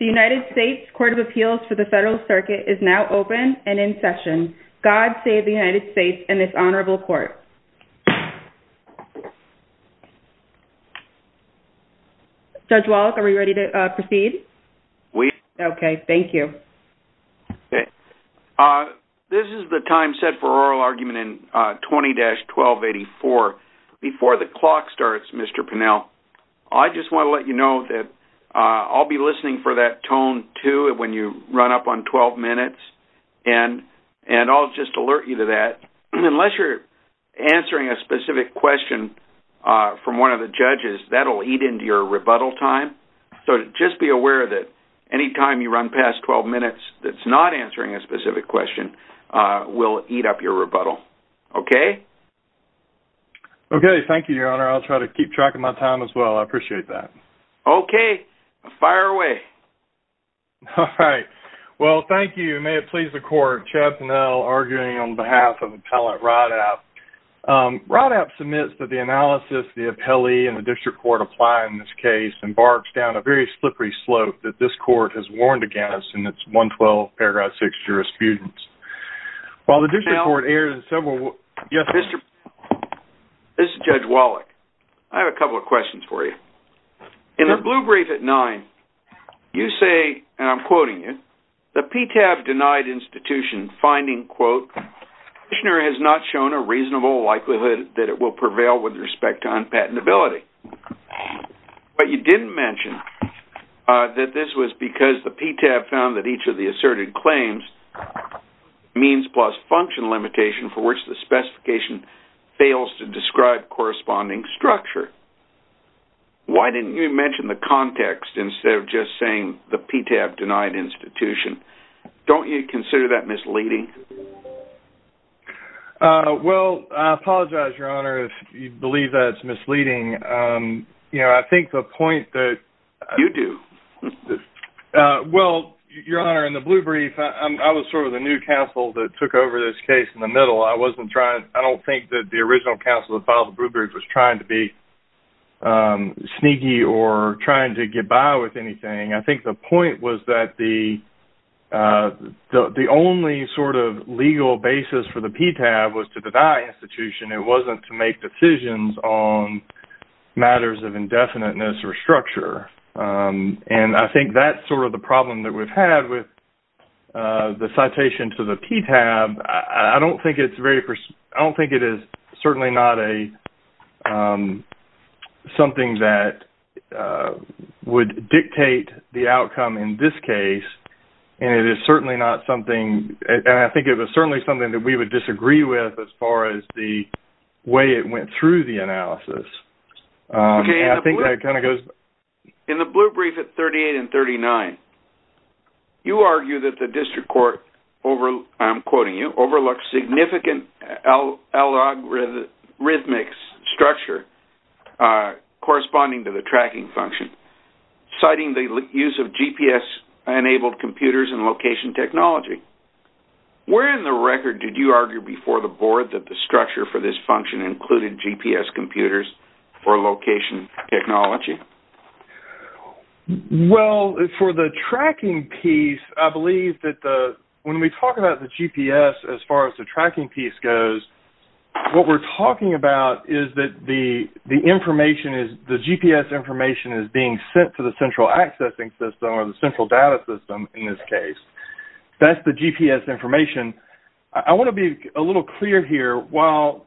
The United States Court of Appeals for the Federal Circuit is now open and in session. God save the United States and this honorable court. Judge Wallach, are we ready to proceed? We are. Okay, thank you. This is the time set for oral argument in 20-1284. Before the clock starts, Mr. Pinnell, I just want to let you know that I'll be listening for that tone, too, when you run up on 12 minutes. And I'll just alert you to that. Unless you're answering a specific question from one of the judges, that will eat into your rebuttal time. So just be aware that any time you run past 12 minutes that's not answering a specific question will eat up your rebuttal. Okay? Okay, thank you, Your Honor. I'll try to keep track of my time as well. I appreciate that. Okay. Fire away. All right. Well, thank you. May it please the court. Chad Pinnell, arguing on behalf of Appellant Roddapp. Roddapp submits that the analysis the appellee and the district court apply in this case embarks down a very slippery slope that this court has warned against in its 112 paragraph 6 jurisprudence. While the district court erred in several... This is Judge Wallach. I have a couple of questions for you. In the blue brief at 9, you say, and I'm quoting you, the PTAB denied institution finding, quote, the petitioner has not shown a reasonable likelihood that it will prevail with respect to unpatentability. But you didn't mention that this was because the PTAB found that each of the asserted claims means plus function limitation for which the specification fails to describe corresponding structure. Why didn't you mention the context instead of just saying the PTAB denied institution? Don't you consider that misleading? Well, I apologize, Your Honor, if you believe that it's misleading. You know, I think the point that... You do. Well, Your Honor, in the blue brief, I was sort of the new counsel that took over this case in the middle. I wasn't trying... I don't think that the original counsel that filed the blue brief was trying to be sneaky or trying to get by with anything. I think the point was that the only sort of legal basis for the PTAB was to deny institution. It wasn't to make decisions on matters of indefiniteness or structure. And I think that's sort of the problem that we've had with the citation to the PTAB. I don't think it's very... I don't think it is certainly not something that would dictate the outcome in this case. And it is certainly not something... And I think it was certainly something that we would disagree with as far as the way it went through the analysis. I think that kind of goes... In the blue brief at 38 and 39, you argue that the district court, I'm quoting you, overlooked significant algorithmic structure corresponding to the tracking function, citing the use of GPS-enabled computers and location technology. Where in the record did you argue before the board that the structure for this function included GPS computers for location technology? Well, for the tracking piece, I believe that the... When we talk about the GPS as far as the tracking piece goes, what we're talking about is that the information is... The GPS information is being sent to the central accessing system or the central data system in this case. That's the GPS information. I want to be a little clear here. While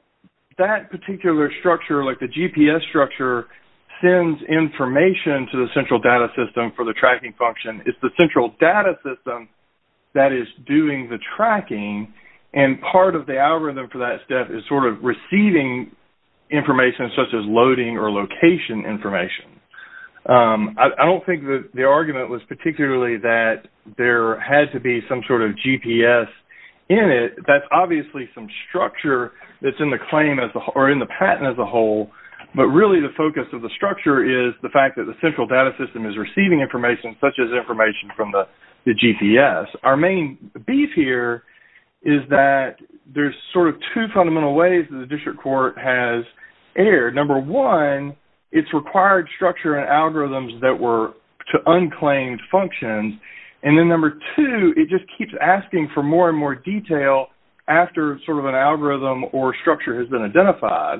that particular structure, like the GPS structure, sends information to the central data system for the tracking function, it's the central data system that is doing the tracking. And part of the algorithm for that step is sort of receiving information such as loading or location information. I don't think that the argument was particularly that there had to be some sort of GPS in it. That's obviously some structure that's in the patent as a whole, but really the focus of the structure is the fact that the central data system is receiving information such as information from the GPS. Our main beef here is that there's sort of two fundamental ways that the district court has erred. Number one, it's required structure and algorithms that were to unclaimed functions. And then number two, it just keeps asking for more and more detail after sort of an algorithm or structure has been identified.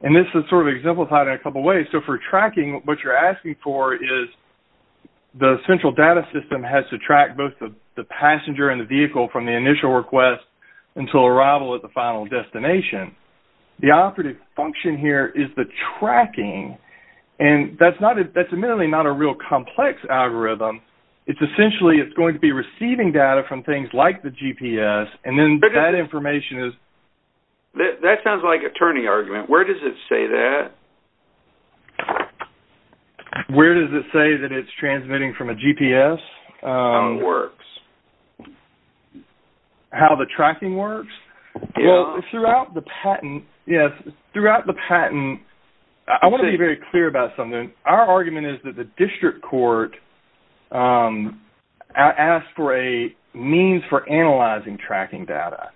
And this is sort of exemplified in a couple ways. So for tracking, what you're asking for is the central data system has to track both the passenger and the vehicle from the initial request until arrival at the final destination. The operative function here is the tracking, and that's admittedly not a real complex algorithm. It's essentially it's going to be receiving data from things like the GPS, and then that information is... That sounds like a turning argument. Where does it say that? Where does it say that it's transmitting from a GPS? How it works. How the tracking works? Throughout the patent, I want to be very clear about something. Our argument is that the district court asked for a means for analyzing tracking data,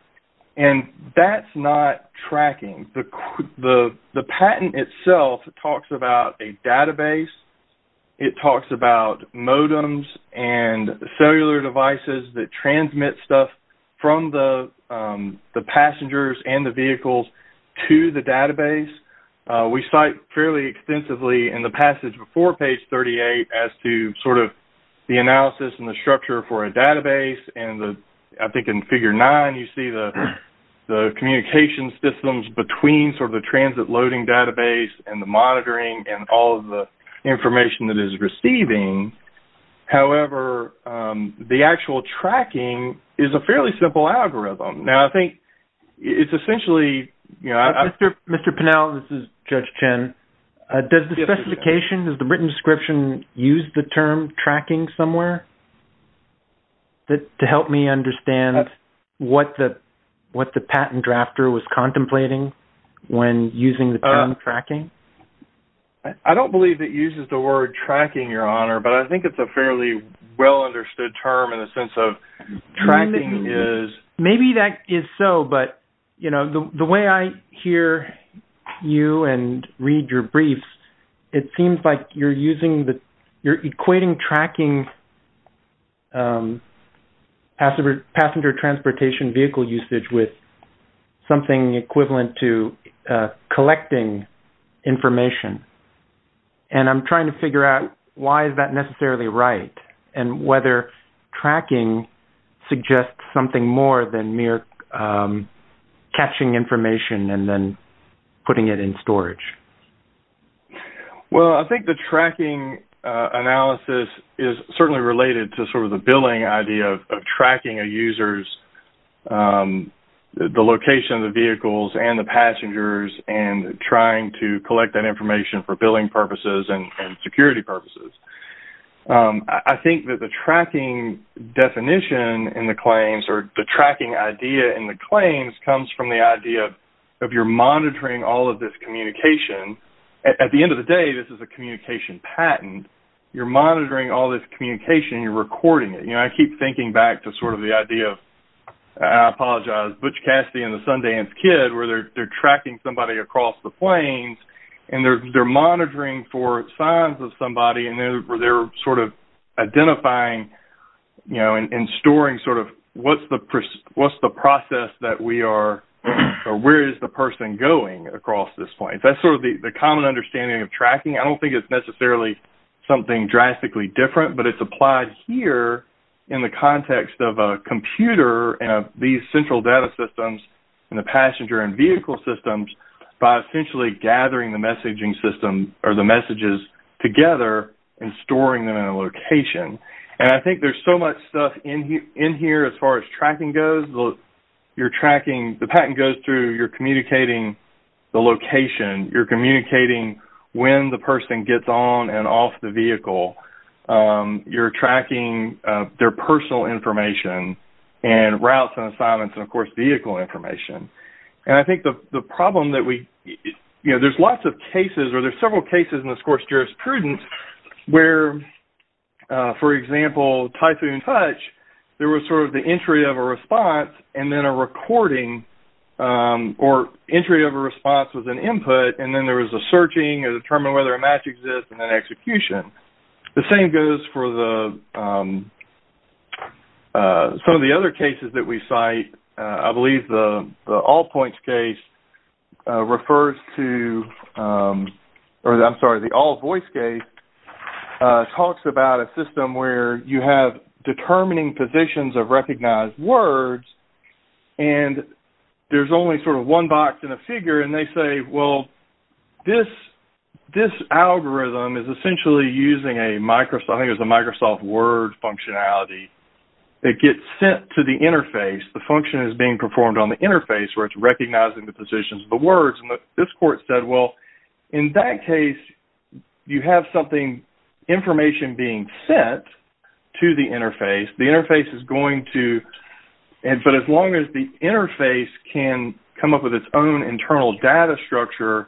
and that's not tracking. The patent itself talks about a database. It talks about modems and cellular devices that transmit stuff from the passengers and the vehicles to the database. We cite fairly extensively in the passage before page 38 as to sort of the analysis and the structure for a database, and I think in figure nine you see the communication systems between sort of the transit loading database and the monitoring and all of the information that it is receiving. However, the actual tracking is a fairly simple algorithm. Now, I think it's essentially... Mr. Pinnell, this is Judge Chen. Does the specification, does the written description use the term tracking somewhere to help me understand what the patent drafter was contemplating when using the term tracking? I don't believe it uses the word tracking, Your Honor, but I think it's a fairly well-understood term in the sense of tracking is... Maybe that is so, but, you know, the way I hear you and read your briefs, it seems like you're equating tracking passenger transportation vehicle usage with something equivalent to collecting information, and I'm trying to figure out why is that necessarily right and whether tracking suggests something more than mere catching information and then putting it in storage. Well, I think the tracking analysis is certainly related to sort of the billing idea of tracking a user's, the location of the vehicles and the passengers and trying to collect that information for billing purposes and security purposes. I think that the tracking definition in the claims or the tracking idea in the claims comes from the idea of you're monitoring all of this communication. At the end of the day, this is a communication patent. You're monitoring all this communication and you're recording it. You know, I keep thinking back to sort of the idea of, I apologize, Butch Cassidy and the Sundance Kid where they're tracking somebody across the plains and they're monitoring for signs of somebody and they're sort of identifying and storing sort of what's the process that we are or where is the person going across this plain. That's sort of the common understanding of tracking. I don't think it's necessarily something drastically different, but it's applied here in the context of a computer and these central data systems and the passenger and vehicle systems by essentially gathering the messaging system or the messages together and storing them in a location. And I think there's so much stuff in here as far as tracking goes. You're tracking, the patent goes through, you're communicating the location. You're communicating when the person gets on and off the vehicle. You're tracking their personal information and routes and assignments and, of course, vehicle information. And I think the problem that we, you know, there's lots of cases or there's several cases in this course jurisprudence where, for example, Typhoon Touch, there was sort of the entry of a response and then a recording or entry of a response with an input and then there was a searching to determine whether a match exists and then execution. The same goes for some of the other cases that we cite. I believe the All Points case refers to, or I'm sorry, the All Voice case, talks about a system where you have determining positions of recognized words and there's only sort of one box and a figure and they say, well, this algorithm is essentially using a Microsoft, I think it was a Microsoft Word functionality. It gets sent to the interface. The function is being performed on the interface where it's recognizing the positions of the words. And this court said, well, in that case, you have something, information being sent to the interface. The interface is going to, but as long as the interface can come up with its own internal data structure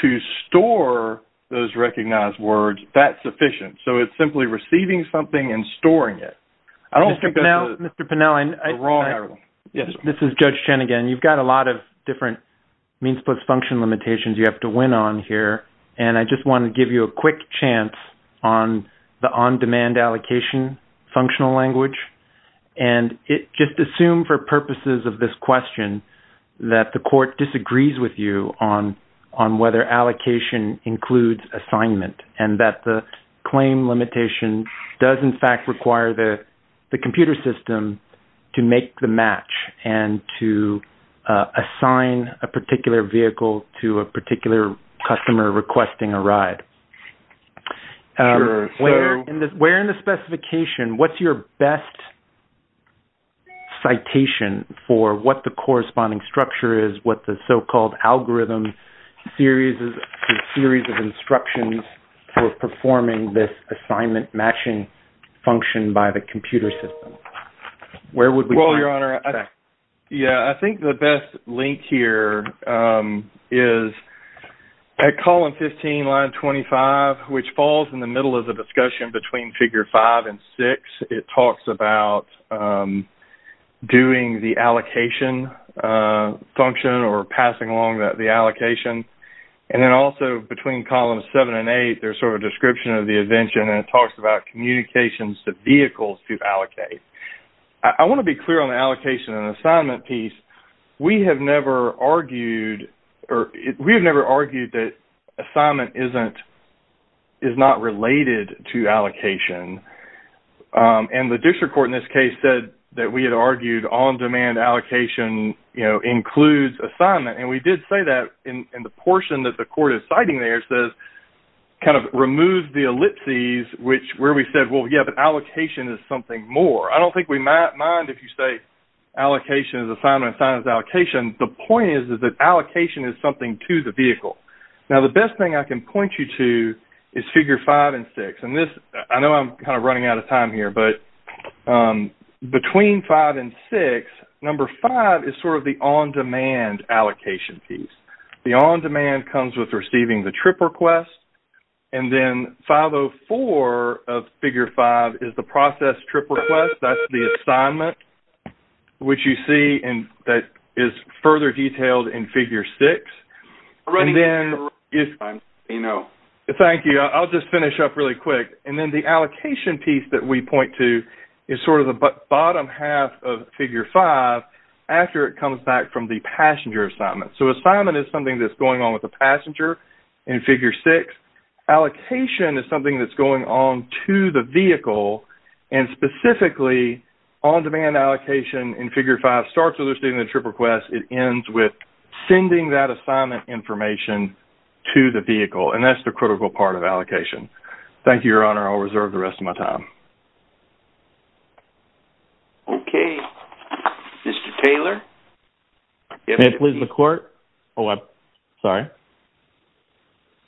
to store those recognized words, that's sufficient. So it's simply receiving something and storing it. I don't think that's the wrong algorithm. This is Judge Chen again. You've got a lot of different means plus function limitations you have to win on here, and I just want to give you a quick chance on the on-demand allocation functional language. And just assume for purposes of this question that the court disagrees with you on whether allocation includes assignment and that the claim limitation does in fact require the computer system to make the match and to assign a particular vehicle to a particular customer requesting a ride. Where in the specification, what's your best citation for what the corresponding structure is, what the so-called algorithm series of instructions for performing this assignment matching function by the computer system? Well, Your Honor, I think the best link here is at column 15, line 25, which falls in the middle of the discussion between figure 5 and 6. It talks about doing the allocation function or passing along the allocation. And then also between columns 7 and 8, there's sort of a description of the invention, and it talks about communications to vehicles to allocate. I want to be clear on the allocation and assignment piece. We have never argued that assignment is not related to allocation. And the district court in this case said that we had argued on-demand allocation includes assignment. And we did say that in the portion that the court is citing there. It says it kind of removes the ellipses where we said, well, yeah, but allocation is something more. I don't think we might mind if you say allocation is assignment and assignment is allocation. The point is that allocation is something to the vehicle. Now, the best thing I can point you to is figure 5 and 6. And I know I'm kind of running out of time here, but between 5 and 6, number 5 is sort of the on-demand allocation piece. The on-demand comes with receiving the trip request. And then 504 of figure 5 is the process trip request. That's the assignment, which you see is further detailed in figure 6. Thank you. I'll just finish up really quick. And then the allocation piece that we point to is sort of the bottom half of figure 5 after it comes back from the passenger assignment. So assignment is something that's going on with the passenger in figure 6. Allocation is something that's going on to the vehicle, and specifically on-demand allocation in figure 5 starts with receiving the trip request. It ends with sending that assignment information to the vehicle, and that's the critical part of allocation. Thank you, Your Honor. I'll reserve the rest of my time. Okay. Mr. Taylor? May it please the Court? Oh, I'm sorry.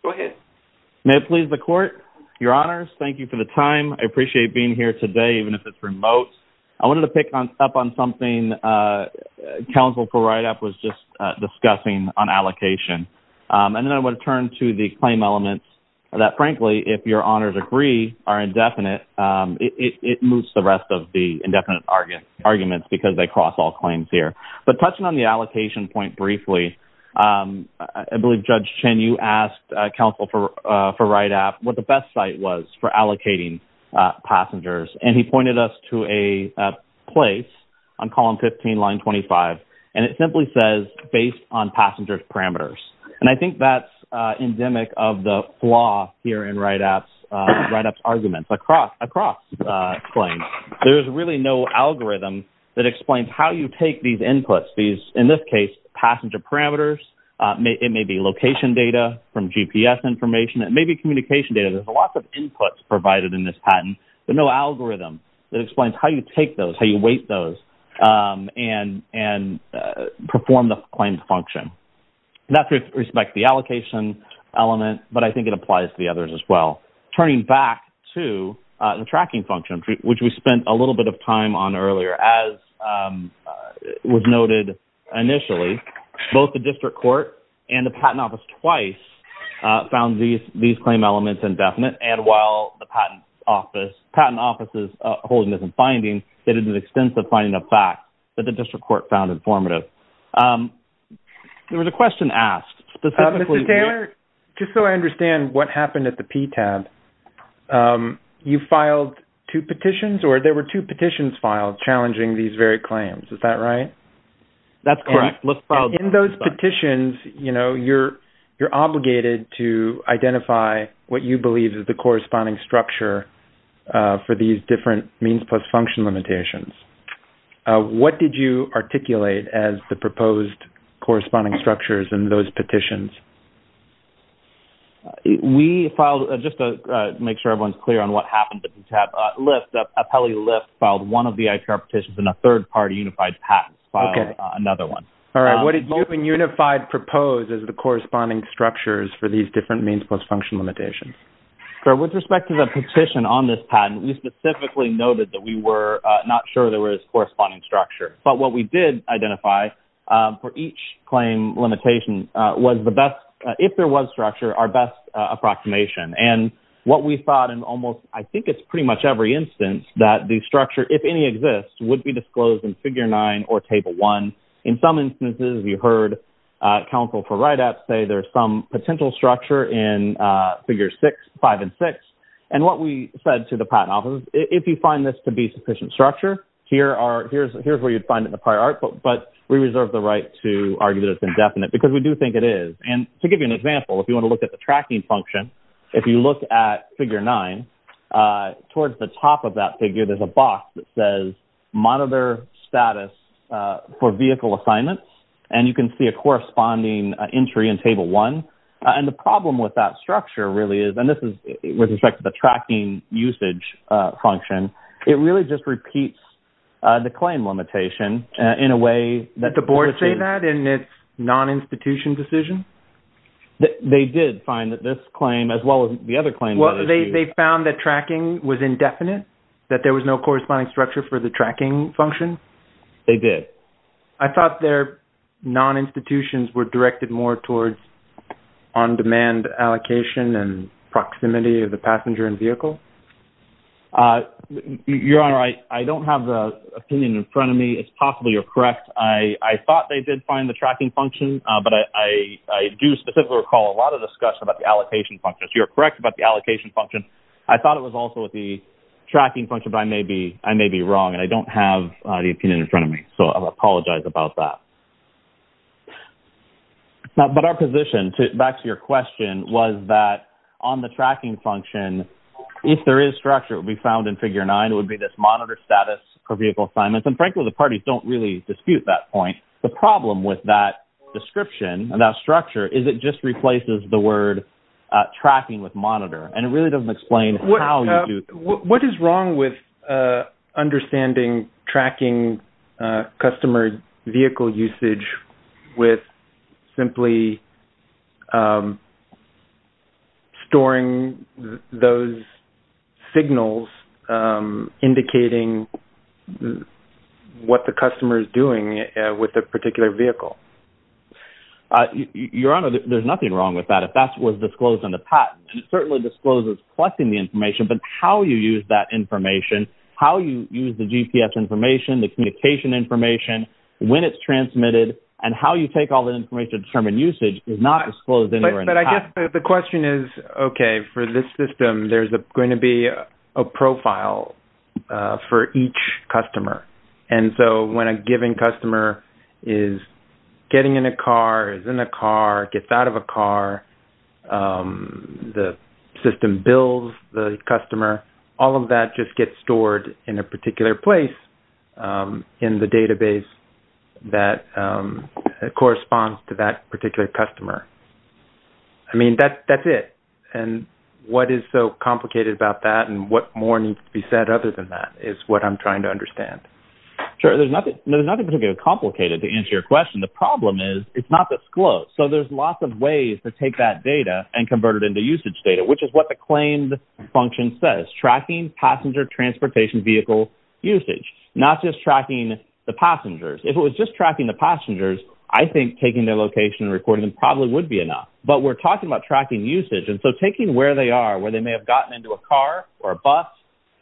Go ahead. May it please the Court? Your Honors, thank you for the time. I appreciate being here today, even if it's remote. I wanted to pick up on something Counsel for RIDAP was just discussing on allocation. And then I want to turn to the claim elements that, frankly, if Your Honors agree are indefinite, it moves the rest of the indefinite arguments because they cross all claims here. But touching on the allocation point briefly, I believe Judge Chen you asked Counsel for RIDAP what the best site was for passengers. And he pointed us to a place on column 15, line 25. And it simply says, based on passengers' parameters. And I think that's endemic of the flaw here in RIDAP's arguments. Across claims, there's really no algorithm that explains how you take these inputs, in this case, passenger parameters. It may be location data from GPS information. It may be communication data. There's lots of inputs provided in this patent. There's no algorithm that explains how you take those, how you weight those, and perform the claims function. And that's with respect to the allocation element, but I think it applies to the others as well. Turning back to the tracking function, which we spent a little bit of time on earlier, as was noted initially, both the District Court and the Patent Office twice found these claim elements indefinite. And while the Patent Office is holding this in finding, they did an extensive finding of facts that the District Court found informative. There was a question asked. Mr. Taylor, just so I understand what happened at the PTAB, you filed two petitions, or there were two petitions filed challenging these very claims. Is that right? That's correct. In those petitions, you know, you're obligated to identify what you believe is the corresponding structure for these different means plus function limitations. What did you articulate as the proposed corresponding structures in those petitions? We filed, just to make sure everyone's clear on what happened at the PTAB, Lift, Appellee Lift filed one of the ITR petitions and a third party unified patent filed another one. All right. What did you and unified propose as the corresponding structures for these different means plus function limitations? With respect to the petition on this patent, we specifically noted that we were not sure there was corresponding structure. But what we did identify for each claim limitation was the best, if there was structure, our best approximation. And what we thought in almost, I think it's pretty much every instance that the structure, if any, exists would be disclosed in figure nine or table one. In some instances you heard counsel for write-ups say there's some potential structure in figure six, five, and six. And what we said to the patent office, if you find this to be sufficient structure, here's where you'd find it in the prior art book, but we reserve the right to argue that it's indefinite because we do think it is. And to give you an example, if you want to look at the tracking function, if you look at figure nine, towards the top of that figure, there's a box that says monitor status for vehicle assignments. And you can see a corresponding entry in table one. And the problem with that structure really is, and this is with respect to the tracking usage function, it really just repeats the claim limitation in a way that... Did the board say that in its non-institution decision? They did find that this claim, as well as the other claims... They found that tracking was indefinite, that there was no corresponding structure for the tracking function? They did. I thought their non-institutions were directed more towards on-demand allocation and proximity of the passenger and vehicle? Your Honor, I don't have the opinion in front of me. It's possible you're correct. I thought they did find the tracking function, but I do specifically recall a lot of discussion about the allocation function. So you're correct about the allocation function. I thought it was also with the tracking function, but I may be wrong, and I don't have the opinion in front of me. So I apologize about that. But our position, back to your question, was that on the tracking function, if there is structure, it would be found in figure nine, it would be this monitor status for vehicle assignments. And frankly, the parties don't really dispute that point. The problem with that description and that structure is it just replaces the word tracking with monitor. And it really doesn't explain how you do that. What is wrong with understanding tracking customer vehicle usage with simply storing those signals indicating what the customer is doing with a particular vehicle? Your Honor, there's nothing wrong with that. If that was disclosed in the patent, it certainly discloses collecting the information, but how you use that information, how you use the GPS information, the communication information, when it's transmitted, and how you take all that information to determine usage is not disclosed anywhere in the patent. But I guess the question is, okay, for this system, there's going to be a profile for each customer. And so when a given customer is getting in a car, is in a car, gets out of a car, the system bills the customer, all of that just gets stored in a particular place in the database that corresponds to that particular customer. I mean, that's it. And what is so complicated about that and what more needs to be said other than that is what I'm trying to understand. Sure. There's nothing particularly complicated to answer your question. The problem is it's not disclosed. So there's lots of ways to take that data and convert it into usage data, which is what the claimed function says, tracking passenger transportation vehicle usage, not just tracking the passengers. If it was just tracking the passengers, I think taking their location and recording them probably would be enough. But we're talking about tracking usage. And so taking where they are, where they may have gotten into a car or a bus,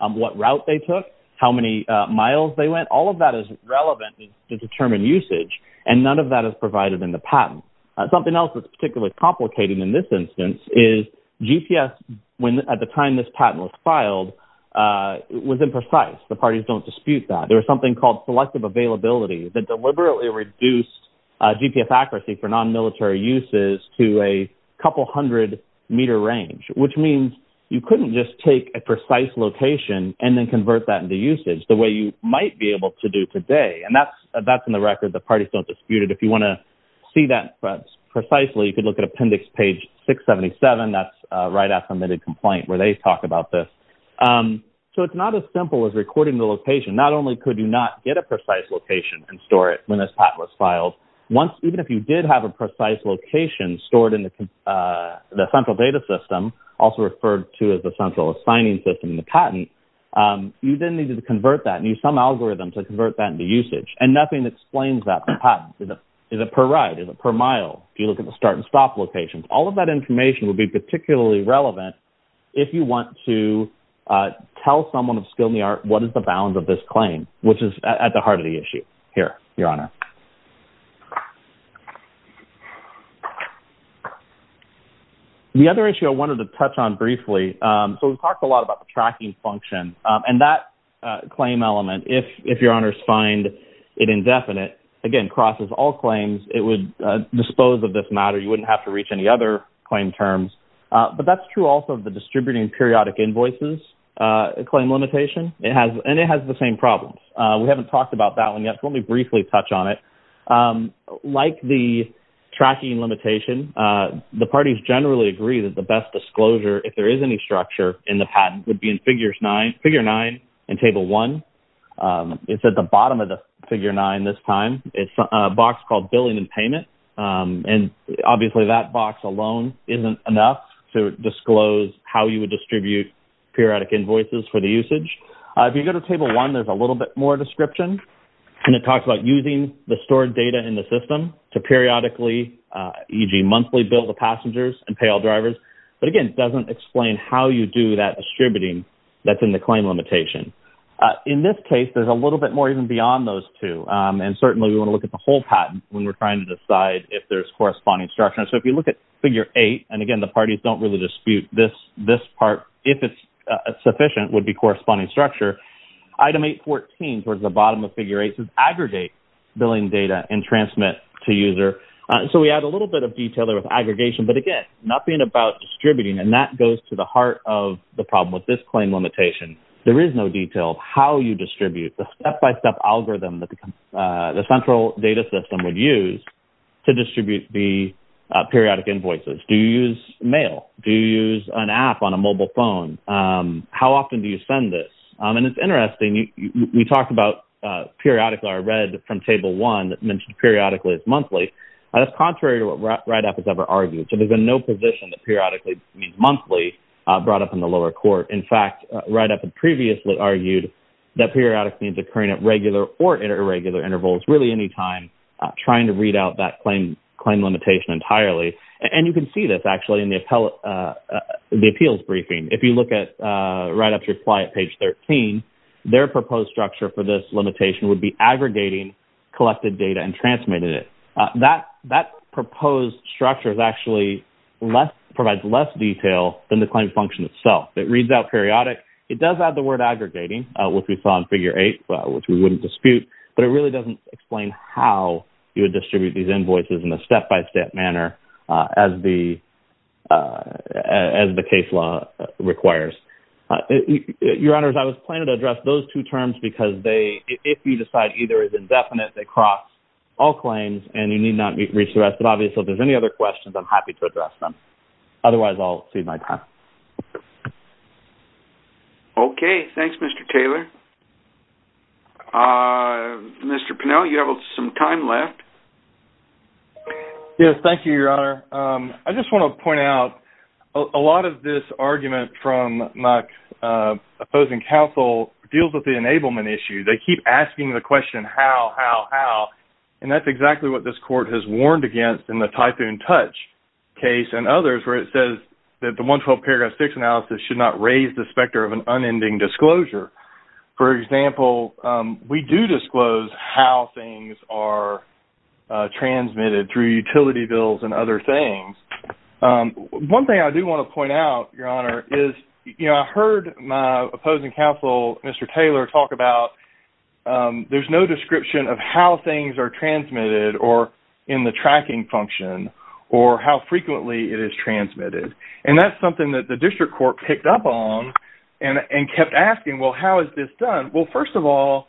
what route they took, how many miles they went, all of that is relevant to determine usage. And none of that is provided in the patent. Something else that's particularly complicated in this instance is GPS, when at the time this patent was filed, was imprecise. The parties don't dispute that. There was something called selective availability that deliberately reduced GPS accuracy for non-military uses to a couple hundred meter range, which means you couldn't just take a precise location and then convert that into usage the way you might be able to do today. And that's in the record. The parties don't dispute it. If you want to see that precisely, you can look at appendix page 677. That's RIDAC-submitted complaint where they talk about this. So it's not as simple as recording the location. Not only could you not get a precise location and store it when this patent was filed, even if you did have a precise location stored in the central data system, also referred to as the central assigning system in the patent, you then needed to convert that and use some algorithm to convert that into usage, and nothing explains that in the patent. Is it per ride? Is it per mile? Do you look at the start and stop locations? All of that information would be particularly relevant if you want to tell someone of skill in the art what is the balance of this claim, which is at the heart of the issue here, Your Honor. The other issue I wanted to touch on briefly, so we've talked a lot about the tracking function. And that claim element, if Your Honors find it indefinite, again, crosses all claims, it would dispose of this matter. You wouldn't have to reach any other claim terms. But that's true also of the distributing periodic invoices claim limitation. And it has the same problems. We haven't talked about that one yet. Let me briefly touch on it. Like the tracking limitation, the parties generally agree that the best disclosure, if there is any structure in the patent, would be in Figure 9 in Table 1. It's at the bottom of the Figure 9 this time. It's a box called billing and payment. And obviously that box alone isn't enough to disclose how you would distribute periodic invoices for the usage. If you go to Table 1, there's a little bit more description. And it talks about using the stored data in the system to periodically, e.g., monthly bill the passengers and pay all drivers. But, again, it doesn't explain how you do that distributing that's in the claim limitation. In this case, there's a little bit more even beyond those two. And certainly we want to look at the whole patent when we're trying to decide if there's corresponding structure. So if you look at Figure 8, and, again, the parties don't really dispute this part. If it's sufficient, it would be corresponding structure. Item 8.14, towards the bottom of Figure 8, says aggregate billing data and transmit to user. So we add a little bit of detail there with aggregation. But, again, nothing about distributing. And that goes to the heart of the problem with this claim limitation. There is no detail how you distribute the step-by-step algorithm that the central data system would use to distribute the periodic invoices. Do you use mail? Do you use an app on a mobile phone? How often do you send this? And it's interesting. We talked about periodically. I read from Table 1 that mentioned periodically as monthly. That's contrary to what RIDAP has ever argued. So there's been no position that periodically means monthly brought up in the lower court. In fact, RIDAP had previously argued that periodic means occurring at regular or inter-regular intervals, really any time, trying to read out that claim limitation entirely. And you can see this, actually, in the appeals briefing. If you look at RIDAP's reply at page 13, their proposed structure for this limitation would be aggregating collected data and transmitting it. That proposed structure actually provides less detail than the claim function itself. It reads out periodic. It does add the word aggregating, which we saw in Figure 8, which we wouldn't dispute. But it really doesn't explain how you would distribute these invoices in a way as the case law requires. Your Honors, I was planning to address those two terms, because if you decide either is indefinite, they cross all claims, and you need not reach the rest. But obviously, if there's any other questions, I'm happy to address them. Otherwise, I'll cede my time. Okay. Thanks, Mr. Taylor. Mr. Pinnell, you have some time left. Yes. Thank you, Your Honor. I just want to point out a lot of this argument from my opposing counsel deals with the enablement issue. They keep asking the question, how, how, how? And that's exactly what this Court has warned against in the Typhoon Touch case and others where it says that the 112 Paragraph 6 analysis should not raise the specter of an unending disclosure. For example, we do disclose how things are transmitted through utility bills and other things. One thing I do want to point out, Your Honor, is, you know, I heard my opposing counsel, Mr. Taylor, talk about there's no description of how things are transmitted or in the tracking function or how frequently it is transmitted. And that's something that the District Court picked up on and kept asking, well, how is this done? Well, first of all,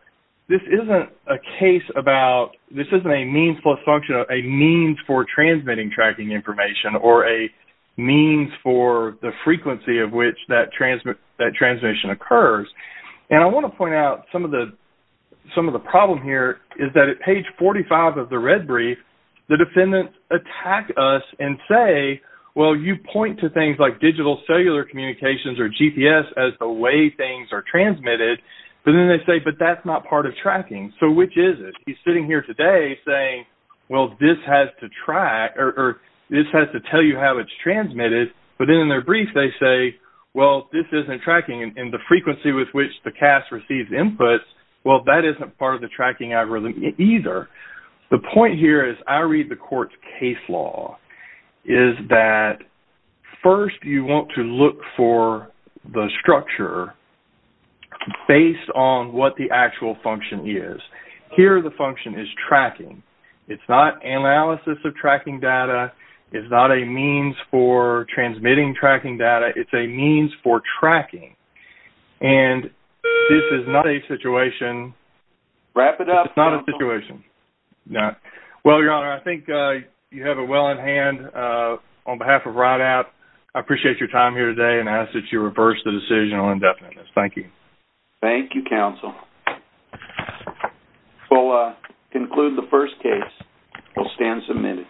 this isn't a case about, this isn't a means plus function, a means for transmitting tracking information or a means for the frequency of which that transmission occurs. And I want to point out some of the problem here is that at page 45 of the red brief, the defendants attack us and say, well, you point to things like digital cellular communications or GPS as the way things are transmitted. But then they say, but that's not part of tracking. So which is it? He's sitting here today saying, well, this has to track, or this has to tell you how it's transmitted. But then in their brief they say, well, this isn't tracking. And the frequency with which the CAS receives inputs, well, that isn't part of the tracking algorithm either. The point here is I read the court's case law is that first you want to look for the structure based on what the actual function is. Here the function is tracking. It's not analysis of tracking data. It's not a means for transmitting tracking data. It's a means for tracking. And this is not a situation. Wrap it up. It's not a situation. Well, Your Honor, I think you have it well in hand. On behalf of RIDAP, I appreciate your time here today and ask that you reverse the decision on indefiniteness. Thank you. Thank you, counsel. We'll conclude the first case. We'll stand submitted.